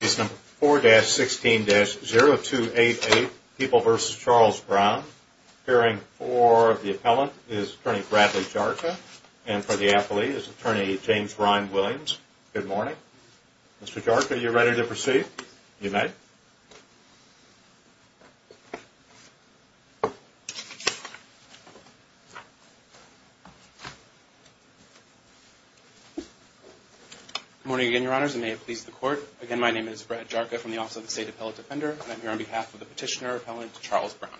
Appeals number 4-16-0288, People v. Charles Brown. Appearing for the appellant is attorney Bradley Jarka. And for the appellee is attorney James Ryan Williams. Good morning. Mr. Jarka, are you ready to proceed? You may. Again, my name is Brett Jarka from the Office of the State Appellate Defender, and I'm here on behalf of the petitioner appellant Charles Brown.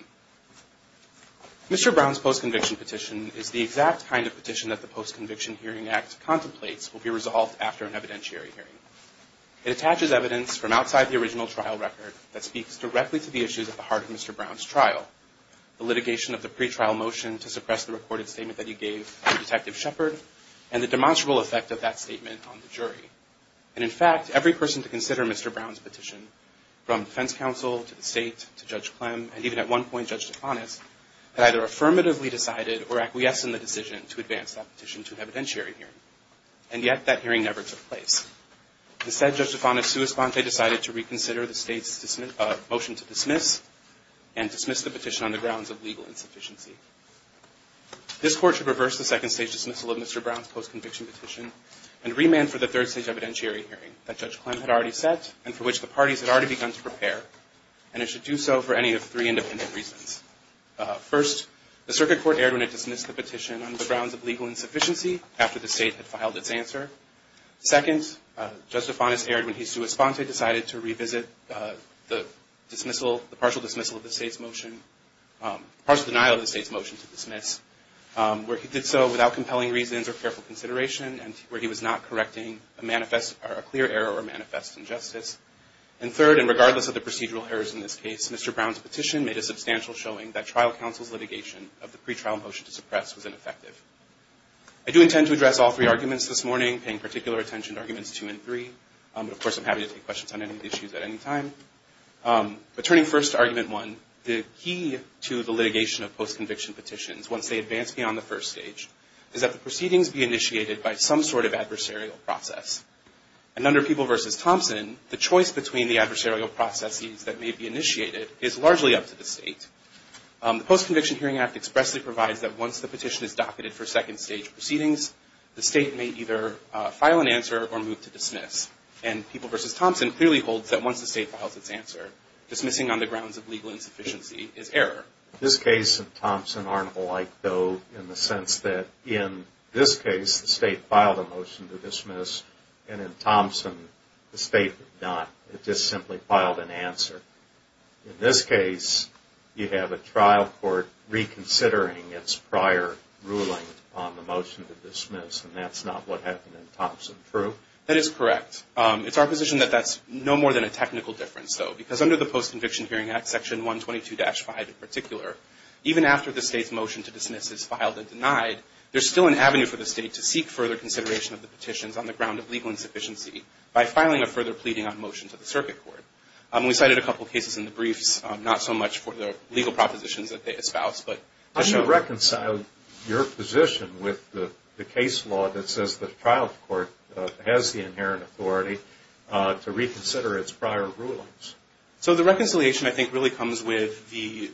Mr. Brown's post-conviction petition is the exact kind of petition that the Post-Conviction Hearing Act contemplates will be resolved after an evidentiary hearing. It attaches evidence from outside the original trial record that speaks directly to the issues at the heart of Mr. Brown's trial, the litigation of the pretrial motion to suppress the recorded statement that he gave to Detective Shepard, and the demonstrable effect of that statement on the jury. And in fact, every person to consider Mr. Brown's petition, from defense counsel, to the state, to Judge Clem, and even at one point, Judge DeFanis, had either affirmatively decided or acquiesced in the decision to advance that petition to an evidentiary hearing. And yet, that hearing never took place. Instead, Judge DeFanis' sua sponte decided to reconsider the state's motion to dismiss and dismiss the petition on the grounds of legal insufficiency. This court should reverse the second-stage dismissal of Mr. Brown's post-conviction petition and remand for the third-stage evidentiary hearing that Judge Clem had already set, and for which the parties had already begun to prepare. And it should do so for any of three independent reasons. First, the circuit court erred when it dismissed the petition on the grounds of legal insufficiency after the state had filed its answer. Second, Judge DeFanis erred when he sua sponte decided to revisit the partial denial of the state's motion to dismiss, where he did so without compelling reasons or careful consideration, and where he was not correcting a clear error or manifest injustice. And third, and regardless of the procedural errors in this case, Mr. Brown's petition made a substantial showing that trial counsel's litigation of the pretrial motion to suppress was ineffective. I do intend to address all three arguments this morning, paying particular attention to arguments two and three. But of course, I'm happy to take questions on any of the issues at any time. But turning first to argument one, the key to the litigation of post-conviction petitions, once they advance beyond the first stage, is that the proceedings be initiated by some sort of adversarial process. And under People v. Thompson, the choice between the adversarial processes that may be initiated is largely up to the state. The Post-Conviction Hearing Act expressly provides that once the petition is docketed for second stage proceedings, the state may either file an answer or move to dismiss. And People v. Thompson clearly holds that once the state files its answer, dismissing on the grounds of legal insufficiency is error. This case and Thompson aren't alike, though, in the sense that in this case, the state filed a motion to dismiss, and in Thompson, the state did not. It just simply filed an answer. In this case, you have a trial court reconsidering its prior ruling on the motion to dismiss, and that's not what happened in Thompson, true? That is correct. It's our position that that's no more than a technical difference, though. Because under the Post-Conviction Hearing Act, Section 122-5 in particular, even after the state's motion to dismiss is filed and denied, there's still an avenue for the state to seek further consideration of the petitions on the ground of legal insufficiency by filing a further pleading on motion to the circuit court. We cited a couple of cases in the briefs, not so much for the legal propositions that they espouse, but to show that. How do you reconcile your position with the case law that says the trial court has the inherent authority to reconsider its prior rulings? So the reconciliation, I think, really comes with the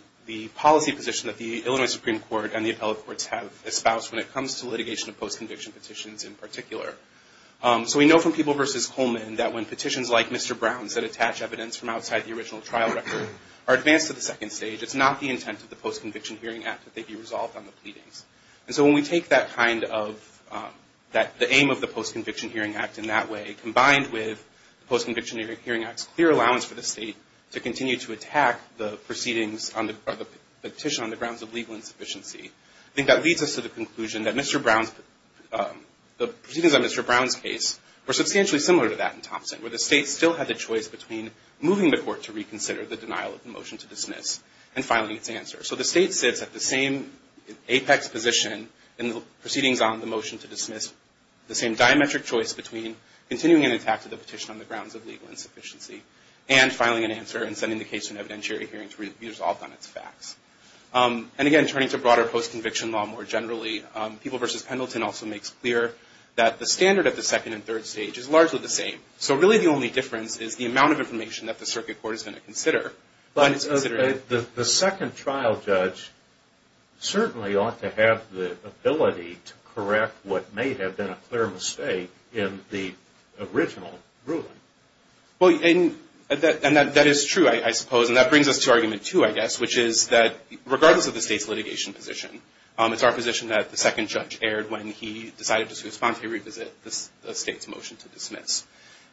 policy position that the Illinois Supreme Court and the appellate courts have espoused when it comes to litigation of post-conviction petitions in particular. So we know from People v. Coleman that when petitions like Mr. Brown's that attach evidence from outside the original trial record are advanced to the second stage, it's not the intent of the Post-Conviction Hearing Act that they be resolved on the pleadings. And so when we take the aim of the Post-Conviction Hearing Act in that way, combined with the Post-Conviction Hearing Act's clear allowance for the state to continue to attack the proceedings or the petition on the grounds of legal insufficiency, I think that leads us to the conclusion that the proceedings on Mr. Brown's case were substantially similar to that in Thompson, where the state still had the choice between moving the court to reconsider the denial of the motion to dismiss and filing its answer. So the state sits at the same apex position in the proceedings on the motion to dismiss, the same diametric choice between continuing an attack to the petition on the grounds of legal insufficiency and filing an answer and sending the case to an evidentiary hearing to be resolved on its facts. And again, turning to broader post-conviction law more generally, People v. Pendleton also makes clear that the standard of the second and third stage is largely the same. So really the only difference is the amount of information that the circuit court is gonna consider when it's considering. The second trial judge certainly ought to have the ability to correct what may have been a clear mistake in the original ruling. Well, and that is true, I suppose. And that brings us to argument two, I guess, which is that regardless of the state's litigation position, it's our position that the second judge erred when he decided to spontaneously revisit the state's motion to dismiss.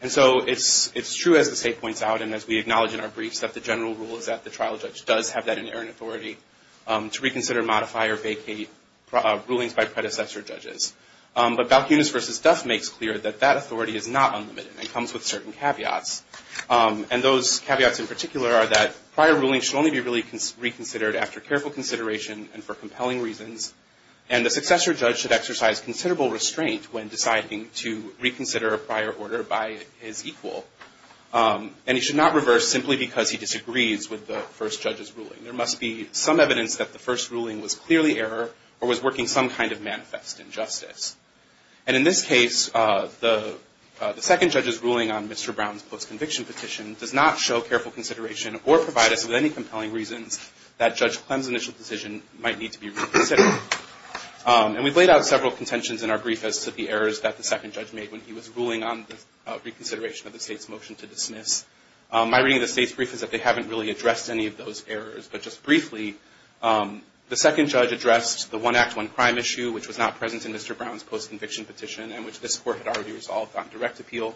And so it's true, as the state points out, and as we acknowledge in our briefs, that the general rule is that the trial judge does have that inerrant authority to reconsider, modify, or vacate rulings by predecessor judges. But Balkunis v. Duff makes clear that that authority is not unlimited and comes with certain caveats. And those caveats in particular are that prior ruling should only be really reconsidered after careful consideration and for compelling reasons. And the successor judge should exercise considerable restraint when deciding to reconsider a prior order by his equal. And he should not reverse simply because he disagrees with the first judge's ruling. There must be some evidence that the first ruling was clearly error or was working some kind of manifest injustice. And in this case, the second judge's ruling on Mr. Brown's post-conviction petition does not show careful consideration or provide us with any compelling reasons that Judge Clem's initial decision might need to be reconsidered. And we've laid out several contentions in our brief as to the errors that the second judge made when he was ruling on the reconsideration of the state's motion to dismiss. My reading of the state's brief is that they haven't really addressed any of those errors. But just briefly, the second judge addressed the one act, one crime issue, which was not present in Mr. Brown's post-conviction petition and which this court had already resolved on direct appeal.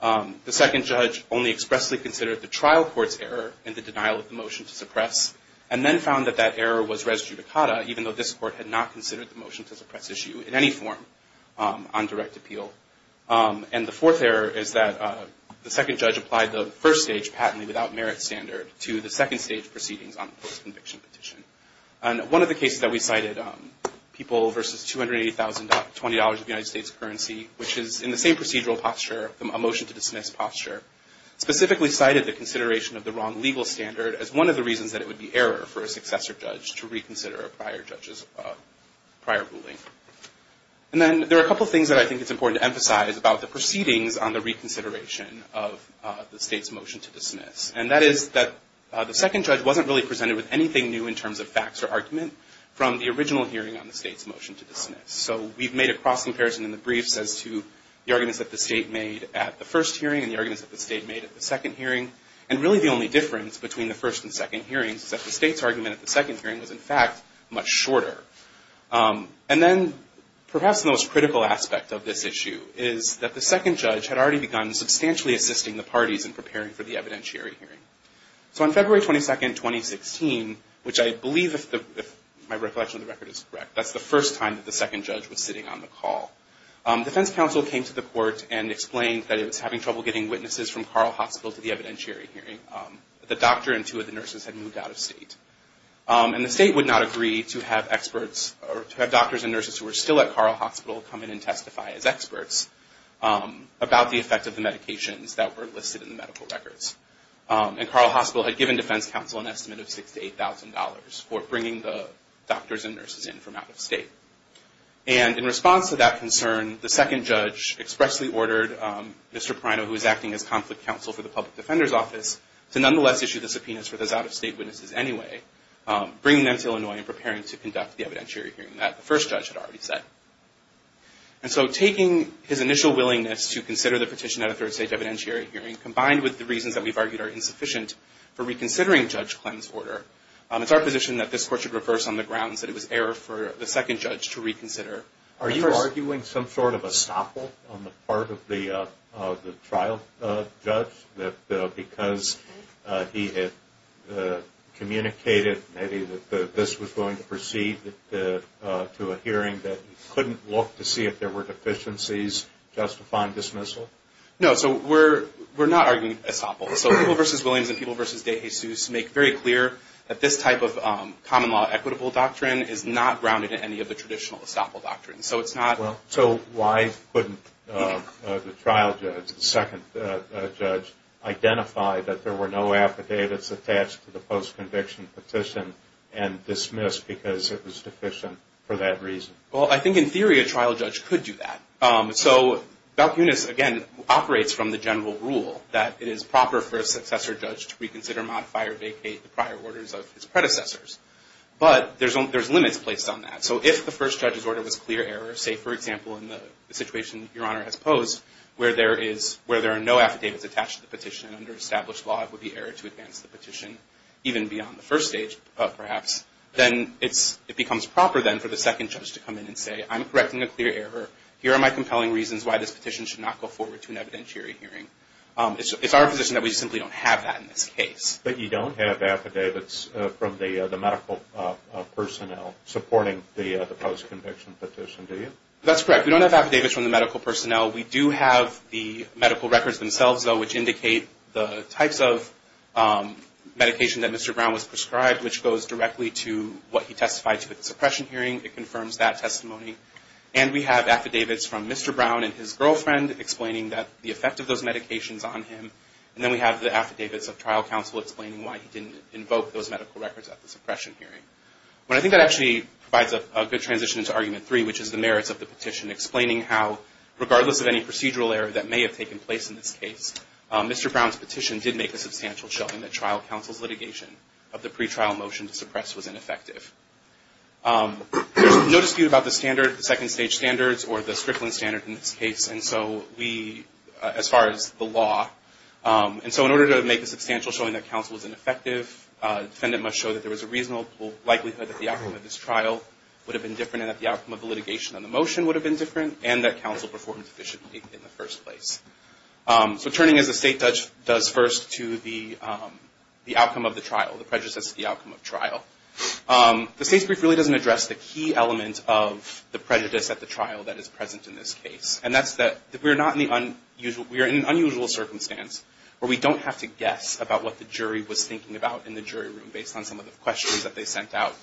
The second judge only expressly considered the trial court's error in the denial of the motion to suppress and then found that that error was res judicata, even though this court had not considered the motion to suppress issue in any form on direct appeal. And the fourth error is that the second judge applied the first stage patently without merit standard to the second stage proceedings on the post-conviction petition. And one of the cases that we cited, people versus $280,020 of the United States currency, which is in the same procedural posture, a motion to dismiss posture, specifically cited the consideration of the wrong legal standard as one of the reasons that it would be error for a successor judge to reconsider a prior judge's prior ruling. And then there are a couple things that I think it's important to emphasize about the proceedings on the reconsideration of the state's motion to dismiss. And that is that the second judge wasn't really presented with anything new in terms of facts or argument from the original hearing on the state's motion to dismiss. So we've made a cross comparison in the briefs as to the arguments that the state made at the first hearing and the arguments that the state made at the second hearing. And really the only difference between the first and second hearings is that the state's argument at the second hearing was in fact much shorter. And then perhaps the most critical aspect of this issue is that the second judge had already begun substantially assisting the parties in preparing for the evidentiary hearing. So on February 22nd, 2016, which I believe if my recollection of the record is correct, that's the first time that the second judge was sitting on the call. Defense counsel came to the court and explained that it was having trouble getting witnesses from Carl Hospital to the evidentiary hearing. The doctor and two of the nurses had moved out of state. And the state would not agree to have experts, or to have doctors and nurses who were still at Carl Hospital come in and testify as experts about the effect of the medications that were listed in the medical records. And Carl Hospital had given defense counsel an estimate of $6,000 to $8,000 for bringing the doctors and nurses in from out of state. And in response to that concern, the second judge expressly ordered Mr. Prino, who was acting as conflict counsel for the public defender's office, to nonetheless issue the subpoenas for those out-of-state witnesses anyway, bringing them to Illinois and preparing to conduct the evidentiary hearing that the first judge had already said. And so taking his initial willingness to consider the petition at a third-stage evidentiary hearing combined with the reasons that we've argued are insufficient for reconsidering Judge Clem's order, it's our position that this court should reverse on the grounds that it was error for the second judge to reconsider. Are you arguing some sort of estoppel on the part of the trial judge that because he had communicated maybe that this was going to proceed to a hearing that he couldn't look to see if there were deficiencies, justifying dismissal? No, so we're not arguing estoppel. So People v. Williams and People v. De Jesus make very clear that this type of common law equitable doctrine is not grounded in any of the traditional estoppel doctrines. So it's not- So why couldn't the trial judge, the second judge, identify that there were no affidavits attached to the post-conviction petition and dismiss because it was deficient for that reason? Well, I think in theory, a trial judge could do that. So Balcunas, again, operates from the general rule that it is proper for a successor judge to reconsider, modify, or vacate the prior orders of his predecessors. But there's limits placed on that. So if the first judge's order was clear error, say, for example, in the situation Your Honor has posed, where there are no affidavits attached to the petition under established law, it would be error to advance the petition even beyond the first stage, perhaps. Then it becomes proper, then, for the second judge to come in and say, I'm correcting a clear error. Here are my compelling reasons why this petition should not go forward to an evidentiary hearing. It's our position that we simply don't have that in this case. But you don't have affidavits from the medical personnel supporting the post-conviction petition, do you? That's correct. We don't have affidavits from the medical personnel. We do have the medical records themselves, though, which indicate the types of medication that Mr. Brown was prescribed, which goes directly to what he testified to at the suppression hearing. It confirms that testimony. And we have affidavits from Mr. Brown and his girlfriend explaining the effect of those medications on him. And then we have the affidavits of trial counsel explaining why he didn't invoke those medical records at the suppression hearing. But I think that actually provides a good transition to argument three, which is the merits of the petition, explaining how, regardless of any procedural error that may have taken place in this case, Mr. Brown's petition did make a substantial showing that trial counsel's litigation of the pretrial motion to suppress was ineffective. There's no dispute about the standard, the second stage standards, or the Strickland standard in this case. And so we, as far as the law, and so in order to make a substantial showing that counsel was ineffective, defendant must show that there was a reasonable likelihood that the outcome of this trial would have been different and that the outcome of the litigation on the motion would have been different, and that counsel performed efficiently in the first place. So turning, as the state does first, to the outcome of the trial, the prejudices of the outcome of trial. The state's brief really doesn't address the key element of the prejudice at the trial that is present in this case. We're in an unusual circumstance where we don't have to guess about what the jury was thinking about in the jury room based on some of the questions that they sent out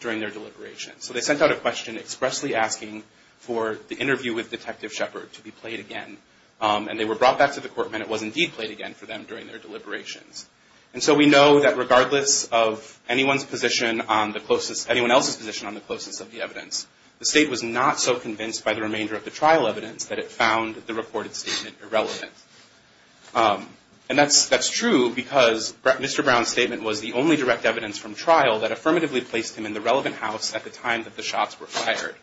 during their deliberations. So they sent out a question expressly asking for the interview with Detective Shepard to be played again, and they were brought back to the court and it was indeed played again for them during their deliberations. And so we know that regardless of anyone else's position on the closest of the evidence, the state was not so convinced by the remainder of the trial evidence that it found the reported statement irrelevant. And that's true because Mr. Brown's statement was the only direct evidence from trial that affirmatively placed him in the relevant house at the time that the shots were fired.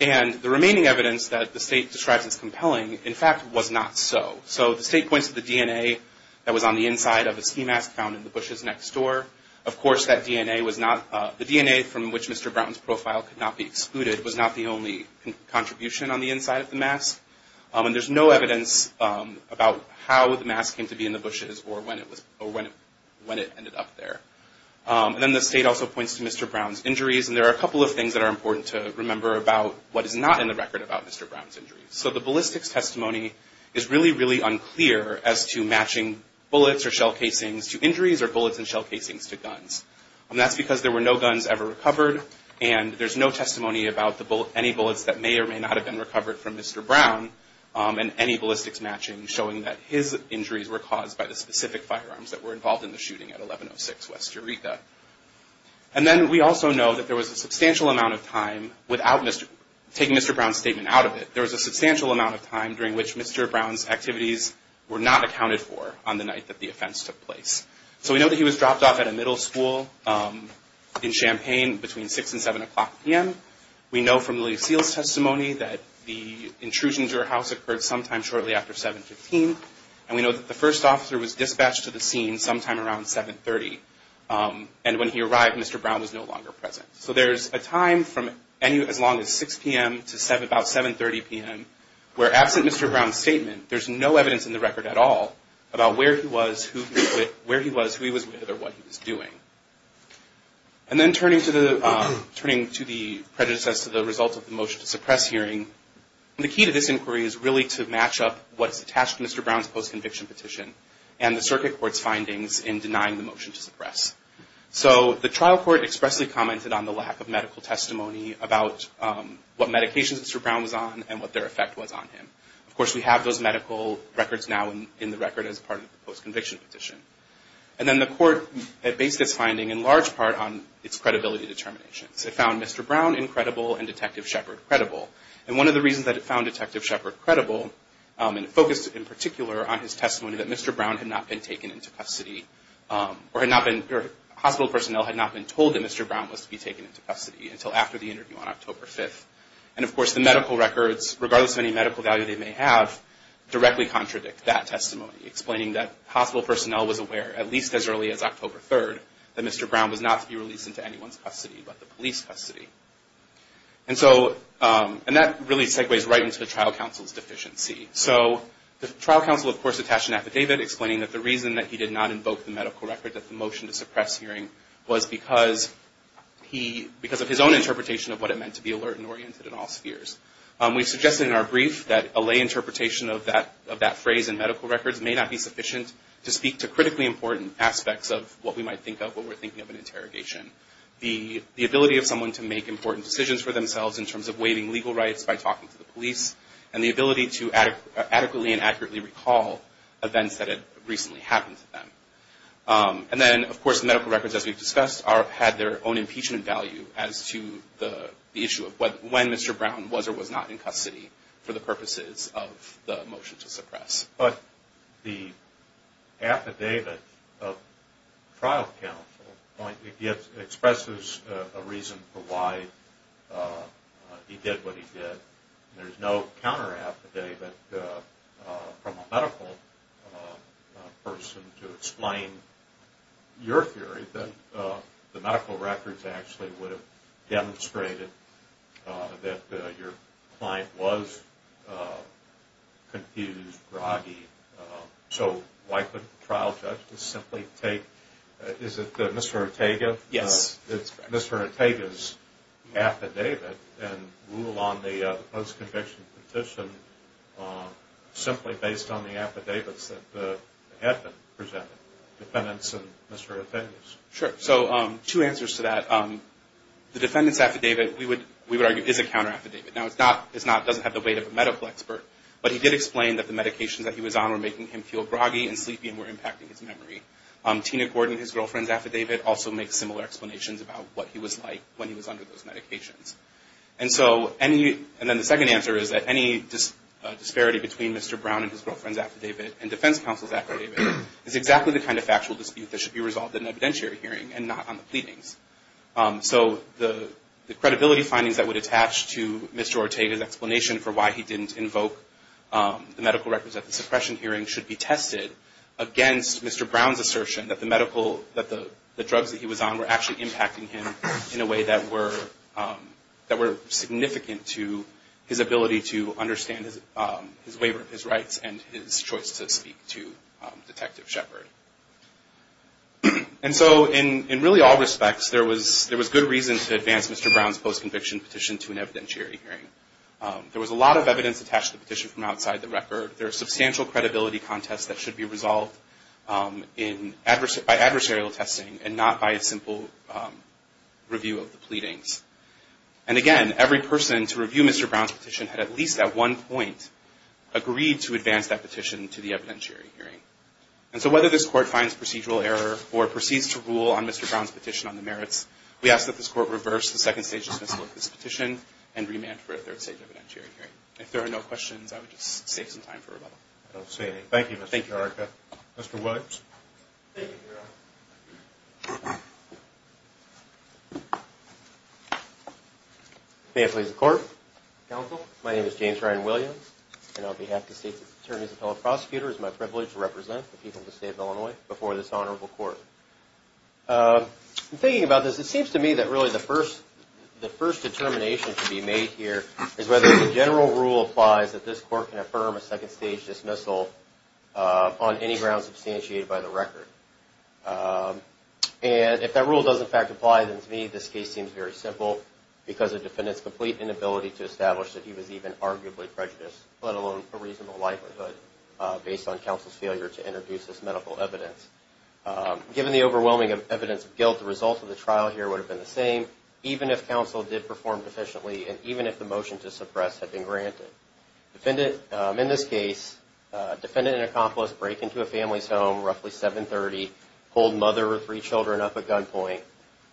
And the remaining evidence that the state describes as compelling, in fact, was not so. So the state points to the DNA that was on the inside of a ski mask found in the bushes next door. Of course, that DNA was not, the DNA from which Mr. Brown's profile could not be excluded was not the only contribution on the inside of the mask. And there's no evidence about how the mask came to be in the bushes or when it ended up there. And then the state also points to Mr. Brown's injuries, and there are a couple of things that are important to remember about what is not in the record about Mr. Brown's injuries. So the ballistics testimony is really, really unclear as to matching bullets or shell casings to injuries or bullets and shell casings to guns. And that's because there were no guns ever recovered and there's no testimony about any bullets that may or may not have been recovered from Mr. Brown and any ballistics matching showing that his injuries were caused by the specific firearms that were involved in the shooting at 1106 West Eureka. And then we also know that there was a substantial amount of time without taking Mr. Brown's statement out of it, there was a substantial amount of time during which Mr. Brown's activities were not accounted for on the night that the offense took place. So we know that he was dropped off at a middle school in Champaign between six and seven o'clock p.m. We know from Lillie Seal's testimony that the intrusion to her house occurred sometime shortly after 7.15. And we know that the first officer was dispatched to the scene sometime around 7.30. And when he arrived, Mr. Brown was no longer present. So there's a time from as long as 6 p.m. to about 7.30 p.m., where absent Mr. Brown's statement, there's no evidence in the record at all about where he was, who he was with, or what he was doing. And then turning to the prejudice as to the result of the motion to suppress hearing, the key to this inquiry is really to match up what's attached to Mr. Brown's post-conviction petition and the circuit court's findings in denying the motion to suppress. So the trial court expressly commented on the lack of medical testimony about what medications Mr. Brown was on and what their effect was on him. Of course, we have those medical records now in the record as part of the post-conviction petition. And then the court had based its finding in large part on its credibility determinations. It found Mr. Brown incredible and Detective Shepard credible. And one of the reasons that it found Detective Shepard credible, and it focused in particular on his testimony that Mr. Brown had not been taken into custody, or hospital personnel had not been told that Mr. Brown was to be taken into custody until after the interview on October 5th. And of course, the medical records, regardless of any medical value they may have, directly contradict that testimony, explaining that hospital personnel was aware, at least as early as October 3rd, that Mr. Brown was not to be released into anyone's custody but the police custody. And so, and that really segues right into the trial counsel's deficiency. So the trial counsel, of course, attached an affidavit explaining that the reason that he did not invoke the medical record that the motion to suppress hearing was because of his own interpretation of what it meant to be alert and oriented in all spheres. We've suggested in our brief that a lay interpretation of that phrase in medical records may not be sufficient to speak to critically important aspects of what we might think of when we're thinking of an interrogation. The ability of someone to make important decisions for themselves in terms of waiving legal rights by talking to the police, and the ability to adequately and accurately recall events that had recently happened to them. And then, of course, medical records, as we've discussed, had their own impeachment value was or was not in custody for the purposes of the motion to suppress. But the affidavit of trial counsel expresses a reason for why he did what he did. There's no counter affidavit from a medical person to explain your theory that the medical records actually would have demonstrated that your client was confused, groggy. So why couldn't the trial judge just simply take, is it Mr. Ortega? Yes, that's correct. Mr. Ortega's affidavit and rule on the post-conviction petition simply based on the affidavits that had been presented, defendants and Mr. Ortega's. Sure, so two answers to that. The defendant's affidavit, we would argue, is a counter affidavit. Now, it doesn't have the weight of a medical expert, but he did explain that the medications that he was on were making him feel groggy and sleepy and were impacting his memory. Tina Gordon, his girlfriend's affidavit, also makes similar explanations about what he was like when he was under those medications. And so, and then the second answer is that any disparity between Mr. Brown and his girlfriend's affidavit and defense counsel's affidavit is exactly the kind of factual dispute that should be resolved in an evidentiary hearing and not on the pleadings. So the credibility findings that would attach to Mr. Ortega's explanation for why he didn't invoke the medical records at the suppression hearing should be tested against Mr. Brown's assertion that the drugs that he was on were actually impacting him in a way that were significant to his ability to understand his waiver of his rights and his choice to speak to Detective Shepard. And so, in really all respects, there was good reason to advance Mr. Brown's post-conviction petition to an evidentiary hearing. There was a lot of evidence attached to the petition from outside the record. There are substantial credibility contests that should be resolved by adversarial testing and not by a simple review of the pleadings. And again, every person to review Mr. Brown's petition had at least at one point agreed to advance that petition to the evidentiary hearing. And so, whether this court finds procedural error or proceeds to rule on Mr. Brown's petition on the merits, we ask that this court reverse the second stage dismissal of this petition and remand for a third stage evidentiary hearing. If there are no questions, I would just save some time for rebuttal. I don't see any. Thank you, Mr. Ortega. Mr. Williams. Thank you, Your Honor. May it please the court. Counsel, my name is James Ryan Williams, and on behalf of the state's attorneys and fellow prosecutors, it is my privilege to represent the people of the state of Illinois before this honorable court. In thinking about this, it seems to me that really the first determination to be made here is whether the general rule applies that this court can affirm a second stage dismissal on any grounds substantiated by the record. And if that rule does in fact apply, then to me this case seems very simple because the defendant's complete inability to establish that he was even arguably prejudiced, let alone a reasonable likelihood based on counsel's failure to introduce this medical evidence. Given the overwhelming evidence of guilt, the result of the trial here would have been the same even if counsel did perform efficiently and even if the motion to suppress had been granted. Defendant, in this case, defendant and accomplice break into a family's home roughly 7.30, hold mother with three children up at gunpoint.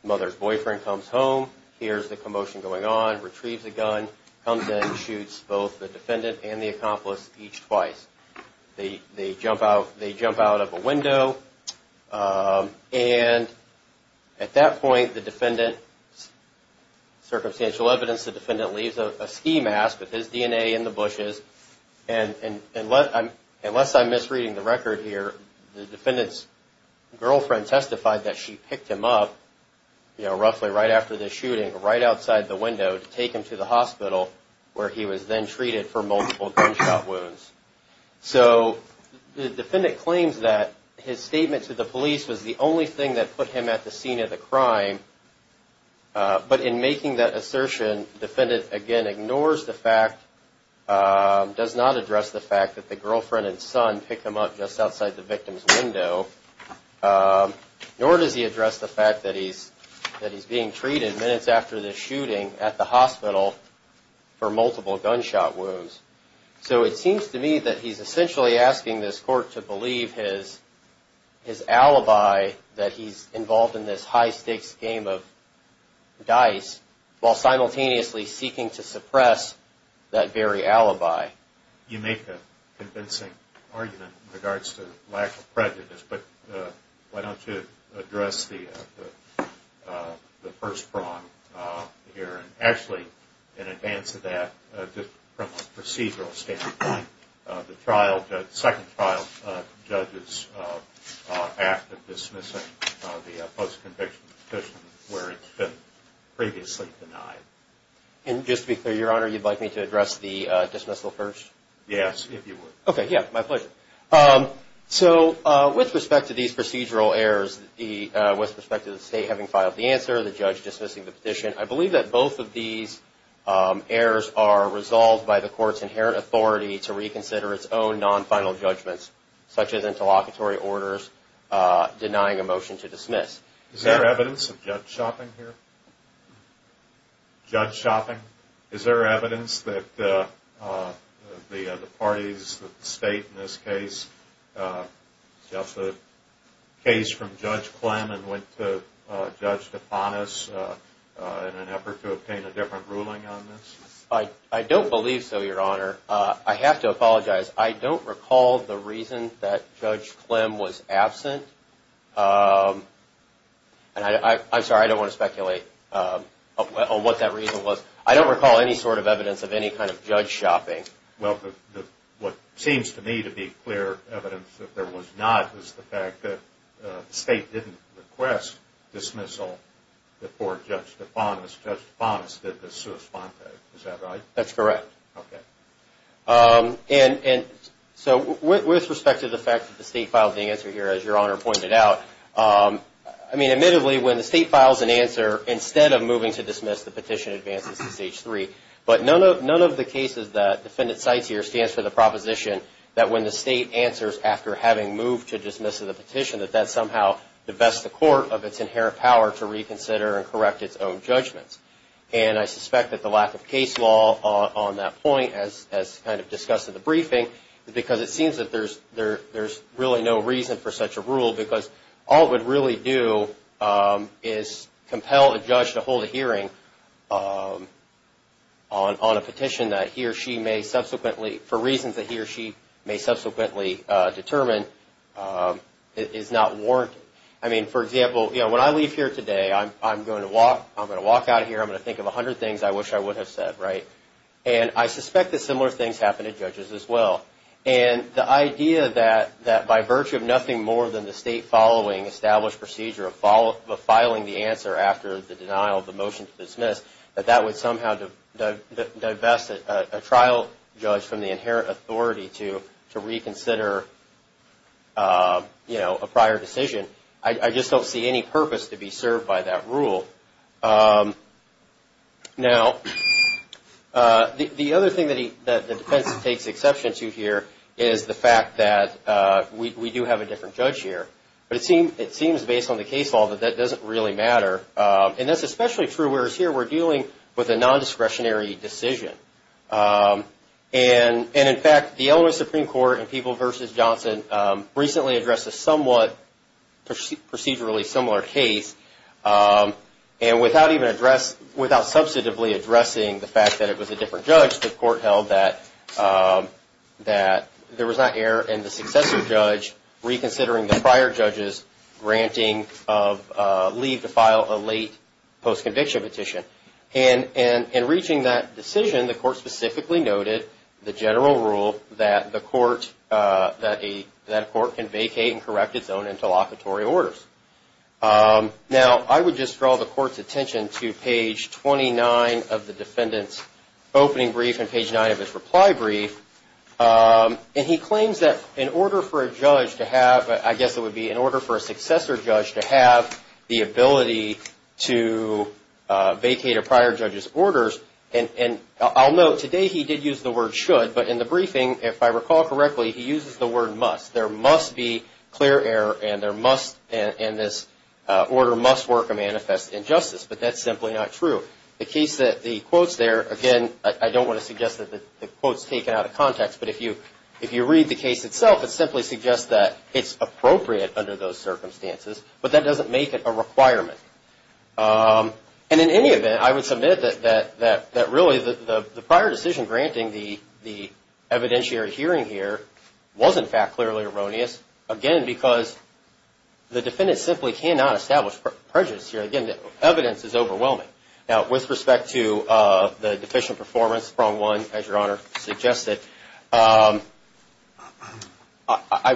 Mother's boyfriend comes home, hears the commotion going on, retrieves a gun, comes in and shoots both the defendant and the accomplice each twice. They jump out of a window and at that point the defendant, circumstantial evidence, the defendant leaves a ski mask with his DNA in the bushes and unless I'm misreading the record here, the defendant's girlfriend testified that she picked him up roughly right after the shooting right outside the window to take him to the hospital where he was then treated for multiple gunshot wounds. So the defendant claims that his statement to the police was the only thing that put him at the scene of the crime but in making that assertion, defendant again ignores the fact, does not address the fact that the girlfriend and son picked him up just outside the victim's window nor does he address the fact that he's being treated minutes after the shooting at the hospital for multiple gunshot wounds. So it seems to me that he's essentially asking this court to believe his alibi that he's involved in this high stakes game of dice while simultaneously seeking to suppress that very alibi. You make a convincing argument in regards to lack of prejudice but why don't you address the first prong here and actually in advance of that, just from a procedural standpoint, the second trial judge's act of dismissing the post-conviction petition where it's been previously denied. And just to be clear, your honor, you'd like me to address the dismissal first? Yes, if you would. Okay, yeah, my pleasure. So with respect to these procedural errors, with respect to the state having filed the answer, the judge dismissing the petition, I believe that both of these errors are resolved by the court's inherent authority to reconsider its own non-final judgments such as interlocutory orders denying a motion to dismiss. Is there evidence of judge shopping here? Judge shopping? Is there evidence that the parties, the state in this case, just the case from Judge Clem and went to Judge DePonis in an effort to obtain a different ruling on this? I don't believe so, your honor. I have to apologize. I don't recall the reason that Judge Clem was absent. And I'm sorry, I don't want to speculate on what that reason was. I don't recall any sort of evidence of any kind of judge shopping. Well, what seems to me to be clear evidence that there was not was the fact that the state didn't request dismissal before Judge DePonis did the sua sponte. Is that right? That's correct. Okay. So with respect to the fact that the state filed the answer here, as your honor pointed out, I mean, admittedly, when the state files an answer, instead of moving to dismiss, the petition advances to stage three. But none of the cases that defendant cites here stands for the proposition that when the state answers after having moved to dismiss the petition, that that somehow divests the court of its inherent power to reconsider and correct its own judgments. And I suspect that the lack of case law on that point, as kind of discussed in the briefing, is because it seems that there's really no reason for such a rule because all it would really do is compel a judge to hold a hearing on a petition that he or she may subsequently, for reasons that he or she may subsequently determine, is not warranted. I mean, for example, when I leave here today, I'm gonna walk out of here, I'm gonna think of a hundred things I wish I would have said, right? And I suspect that similar things happen to judges as well. And the idea that by virtue of nothing more than the state following established procedure of filing the answer after the denial of the motion to dismiss, that that would somehow divest a trial judge from the inherent authority to reconsider a prior decision, I just don't see any purpose to be served by that rule. Now, the other thing that the defense takes exception to here is the fact that we do have a different judge here. But it seems based on the case law that that doesn't really matter. And that's especially true, whereas here we're dealing with a non-discretionary decision. And in fact, the Illinois Supreme Court in Peeble v. Johnson recently addressed a somewhat procedurally similar case. And without even address, without substantively addressing the fact that it was a different judge, the court held that there was not error in the successor judge reconsidering the prior judge's granting of leave to file a late post-conviction. And in reaching that decision, the court specifically noted the general rule that the court, that a court can vacate and correct its own interlocutory orders. Now, I would just draw the court's attention to page 29 of the defendant's opening brief and page nine of his reply brief. And he claims that in order for a judge to have, I guess it would be in order for a successor judge to have the ability to vacate a prior judge's orders. And I'll note, today he did use the word should, but in the briefing, if I recall correctly, he uses the word must. There must be clear error and there must, and this order must work a manifest injustice, but that's simply not true. The case that the quotes there, again, I don't wanna suggest that the quote's taken out of context, but if you read the case itself, it simply suggests that it's appropriate under those circumstances. But that doesn't make it a requirement. And in any event, I would submit that really, the prior decision granting the evidentiary hearing here was in fact clearly erroneous, again, because the defendant simply cannot establish prejudice here. Again, the evidence is overwhelming. Now, with respect to the deficient performance, prong one, as Your Honor suggested, I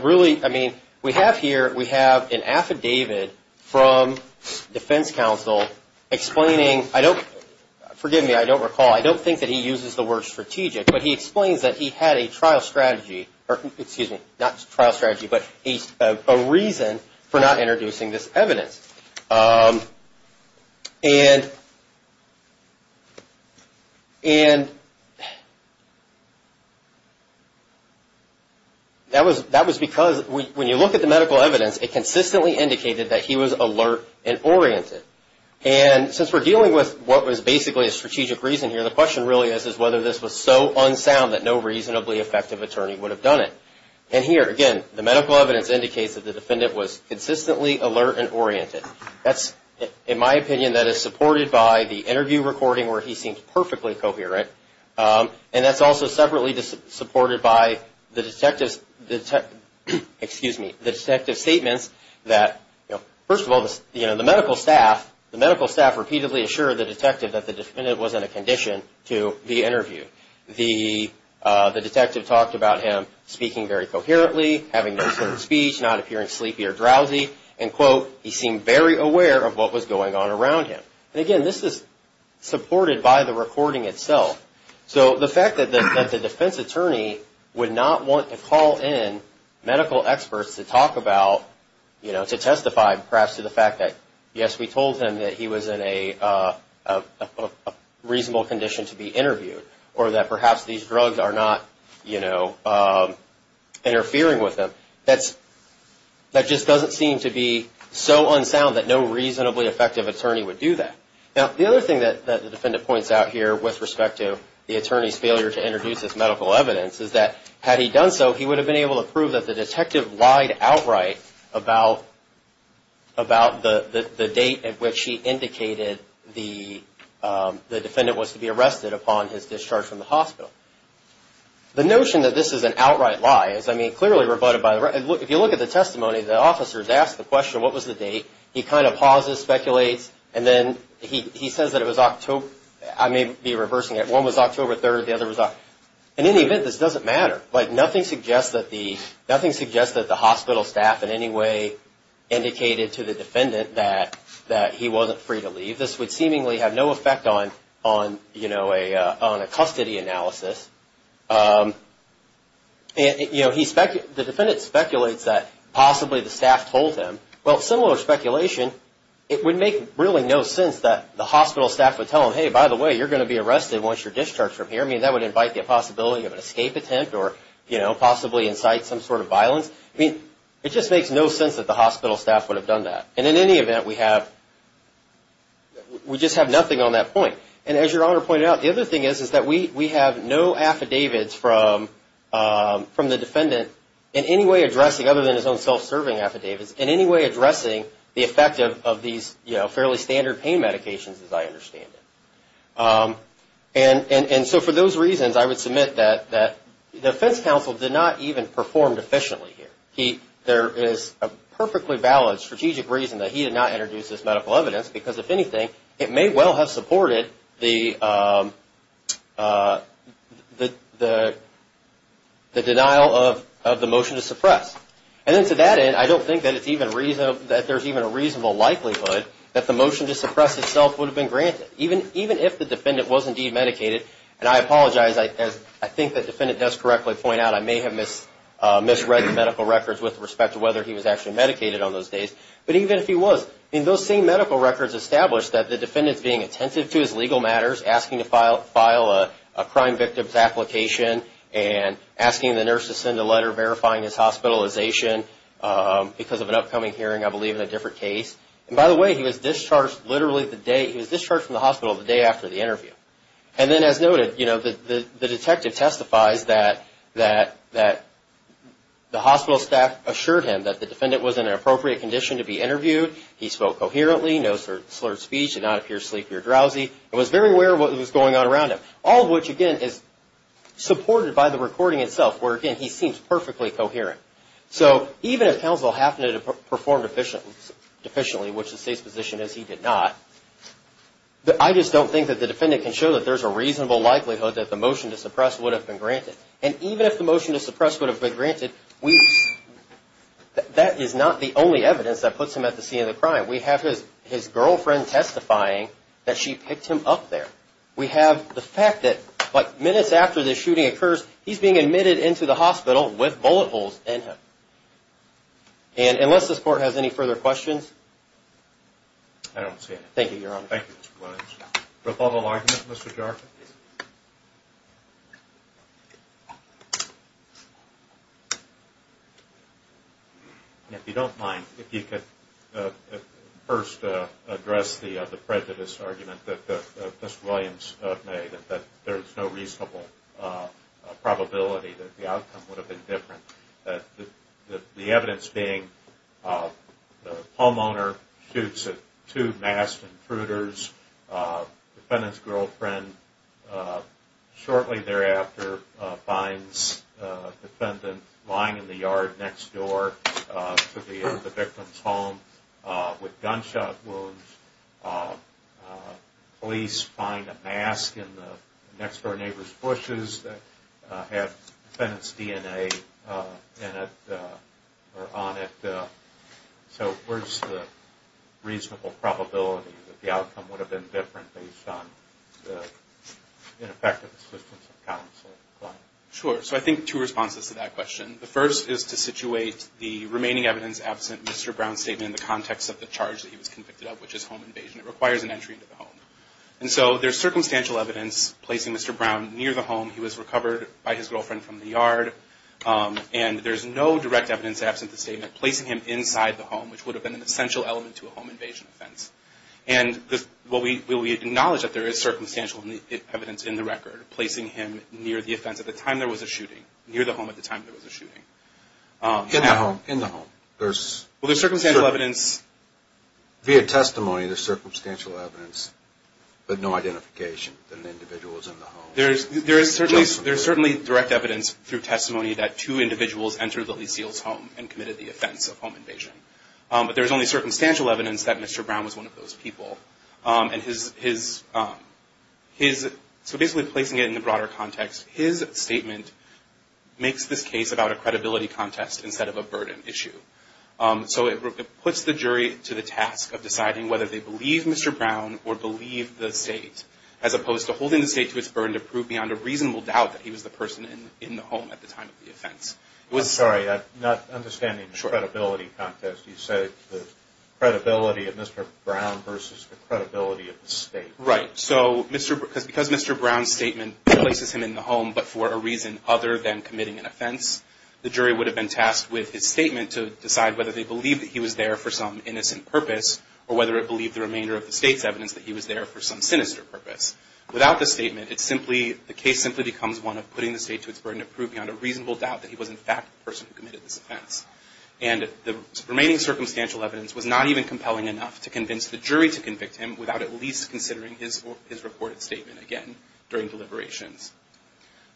really, I mean, we have here, we have an affidavit from defense counsel explaining, I don't, forgive me, I don't recall, I don't think that he uses the word strategic, but he explains that he had a trial strategy, or excuse me, not trial strategy, but a reason for not introducing this evidence. And, and, that was because, when you look at the medical evidence, it consistently indicated that he was alert and oriented. And since we're dealing with what was basically a strategic reason here, the question really is, is whether this was so unsound that no reasonably effective attorney would have done it. And here, again, the medical evidence indicates that the defendant was consistently alert and oriented. That's, in my opinion, that is supported by the interview recording where he seems perfectly coherent. And that's also separately supported by the detectives, excuse me, the detective statements that, first of all, the medical staff, the medical staff repeatedly assured the detective that the defendant was in a condition to be interviewed. The detective talked about him speaking very coherently, having no certain speech, not appearing sleepy or drowsy, and quote, he seemed very aware of what was going on around him. And again, this is supported by the recording itself. So the fact that the defense attorney would not want to call in medical experts to talk about, you know, to testify, perhaps to the fact that, yes, we told him that he was in a reasonable condition to be interviewed, or that perhaps these drugs are not, you know, interfering with him, that just doesn't seem to be so unsound that no reasonably effective attorney would do that. Now, the other thing that the defendant points out here with respect to the attorney's failure to introduce this medical evidence is that, had he done so, he would have been able to prove that the detective lied outright about the date at which he indicated the defendant was to be arrested upon his discharge from the hospital. The notion that this is an outright lie is, I mean, clearly rebutted by the, if you look at the testimony, the officers asked the question, what was the date? He kind of pauses, speculates, and then he says that it was October, I may be reversing it, one was October 3rd, the other was October, in any event, this doesn't matter. Like, nothing suggests that the hospital staff in any way indicated to the defendant that he wasn't free to leave. This would seemingly have no effect on a custody analysis. The defendant speculates that possibly the staff told him. Well, similar speculation, it would make really no sense that the hospital staff would tell him, hey, by the way, you're gonna be arrested once you're discharged from here. I mean, that would invite the possibility of an escape attempt or possibly incite some sort of violence. I mean, it just makes no sense that the hospital staff would have done that. And in any event, we just have nothing on that point. And as Your Honor pointed out, the other thing is that we have no affidavits from the defendant in any way addressing, other than his own self-serving affidavits, in any way addressing the effect of these fairly standard pain medications, as I understand it. And so for those reasons, I would submit that the defense counsel did not even perform efficiently here. There is a perfectly valid strategic reason that he did not introduce this medical evidence because if anything, it may well have supported the denial of the motion to suppress. And then to that end, I don't think that it's even, that there's even a reasonable likelihood that the motion to suppress itself would have been granted. Even if the defendant was indeed medicated, and I apologize, as I think the defendant does correctly point out, I may have misread the medical records with respect to whether he was actually medicated on those days, but even if he was, in those same medical records established that the defendant's being attentive to his legal matters, asking to file a crime victim's application and asking the nurse to send a letter verifying his hospitalization because of an upcoming hearing, I believe in a different case. And by the way, he was discharged literally the day, he was discharged from the hospital the day after the interview. And then as noted, the detective testifies that the hospital staff assured him that the defendant was in an appropriate condition to be interviewed, he spoke coherently, no slurred speech, did not appear sleepy or drowsy, and was very aware of what was going on around him, all of which, again, is supported by the recording itself where, again, he seems perfectly coherent. So even if counsel happened to have performed efficiently, which the state's position is he did not, I just don't think that the defendant can show that there's a reasonable likelihood that the motion to suppress would have been granted. And even if the motion to suppress would have been granted, we, that is not the only evidence that puts him at the scene of the crime. We have his girlfriend testifying that she picked him up there. We have the fact that minutes after the shooting occurs, he's being admitted into the hospital with bullet holes in him. And unless this court has any further questions. I don't see any. Thank you, Your Honor. Thank you, Mr. Williams. Rebuttal argument, Mr. Jarkin? If you don't mind, if you could first address the prejudice argument that Mr. Williams made that there's no reasonable probability that the outcome would have been different, that the evidence being the homeowner shoots at two masked intruders. Defendant's girlfriend shortly thereafter finds a defendant lying in the yard next door to the victim's home with gunshot wounds. Police find a mask in the next door neighbor's bushes that have defendant's DNA in it or on it. So where's the reasonable probability that the outcome would have been different based on the ineffective assistance of counsel? Sure, so I think two responses to that question. The first is to situate the remaining evidence absent Mr. Brown's statement in the context of the charge that he was convicted of, which is home invasion. It requires an entry into the home. And so there's circumstantial evidence placing Mr. Brown near the home. He was recovered by his girlfriend from the yard. And there's no direct evidence absent the statement placing him inside the home, which would have been an essential element to a home invasion offense. And will we acknowledge that there is circumstantial evidence in the record, placing him near the offense at the time there was a shooting, near the home at the time there was a shooting. In the home, in the home. Well, there's circumstantial evidence. Via testimony, there's circumstantial evidence, but no identification that an individual was in the home. There's certainly direct evidence through testimony that two individuals entered the Lee Seals' home and committed the offense of home invasion. But there's only circumstantial evidence that Mr. Brown was one of those people. And his, so basically placing it in the broader context, his statement makes this case about a credibility contest instead of a burden issue. So it puts the jury to the task of deciding whether they believe Mr. Brown or believe the state as opposed to holding the state to its burden to prove beyond a reasonable doubt that he was the person in the home at the time of the offense. It was- I'm sorry, I'm not understanding the credibility contest. You said the credibility of Mr. Brown versus the credibility of the state. Right, so because Mr. Brown's statement places him in the home, but for a reason other than committing an offense, the jury would have been tasked with his statement to decide whether they believe that he was there for some innocent purpose, or whether it believed the remainder of the state's evidence that he was there for some sinister purpose. Without the statement, it simply, the case simply becomes one of putting the state to its burden to prove beyond a reasonable doubt that he was in fact the person who committed this offense. And the remaining circumstantial evidence was not even compelling enough to convince the jury to convict him without at least considering his reported statement again during deliberations.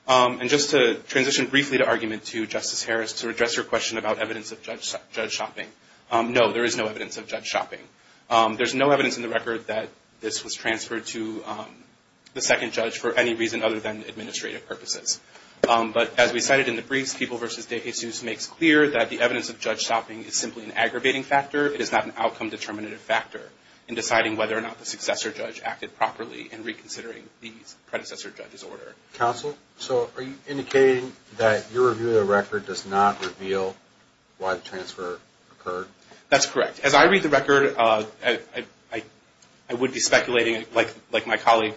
And just to transition briefly to argument to Justice Harris to address your question about evidence of judge shopping. No, there is no evidence of judge shopping. There's no evidence in the record that this was transferred to the second judge for any reason other than administrative purposes. But as we cited in the briefs, People v. DeJesus makes clear that the evidence of judge shopping is simply an aggravating factor. It is not an outcome determinative factor in deciding whether or not the successor judge acted properly in reconsidering the predecessor judge's order. Counsel, so are you indicating that your review of the record does not reveal why the transfer occurred? That's correct. As I read the record, I would be speculating like my colleague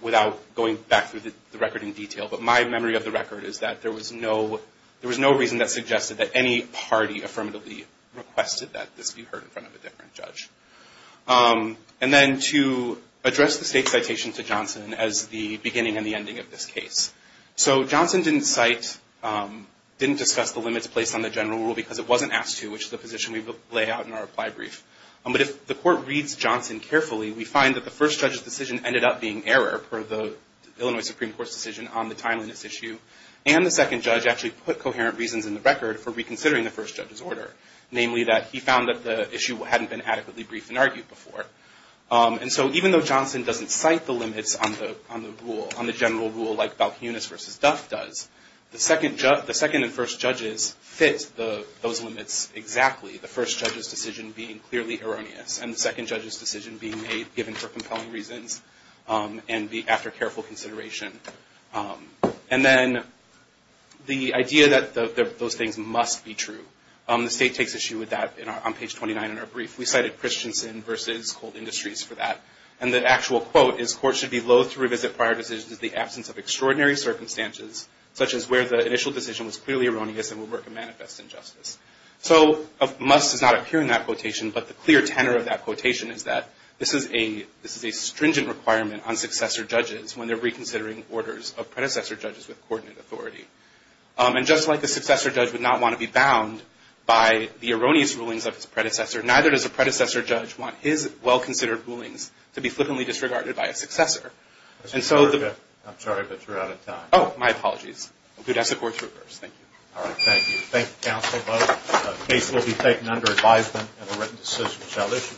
without going back through the record in detail. But my memory of the record is that there was no reason that suggested that any party affirmatively requested that this be heard in front of a different judge. And then to address the state citation to Johnson as the beginning and the ending of this case. So Johnson didn't discuss the limits placed on the general rule because it wasn't asked to, which is the position we lay out in our applied brief. But if the court reads Johnson carefully, we find that the first judge's decision ended up being error per the Illinois Supreme Court's decision on the timeliness issue. And the second judge actually put coherent reasons in the record for reconsidering the first judge's order. Namely that he found that the issue hadn't been adequately briefed and argued before. And so even though Johnson doesn't cite the limits on the rule, on the general rule like Balkunis v. Duff does, the second and first judges fit those limits exactly. The first judge's decision being clearly erroneous. And the second judge's decision being made given for compelling reasons and after careful consideration. And then the idea that those things must be true. The state takes issue with that on page 29 in our brief. We cited Christensen v. Cold Industries for that. And the actual quote is, courts should be loath to revisit prior decisions in the absence of extraordinary circumstances such as where the initial decision was clearly erroneous and would work to manifest injustice. So a must does not appear in that quotation, but the clear tenor of that quotation is that this is a stringent requirement on successor judges when they're reconsidering orders of predecessor judges with coordinate authority. And just like a successor judge would not want to be bound by the erroneous rulings of his predecessor, neither does a predecessor judge want his well-considered rulings to be flippantly disregarded by a successor. And so the- I'm sorry, but you're out of time. Oh, my apologies. We'll do that support to reverse. Thank you. All right, thank you. Thank you, counsel. The case will be taken under advisement and a written decision shall issue.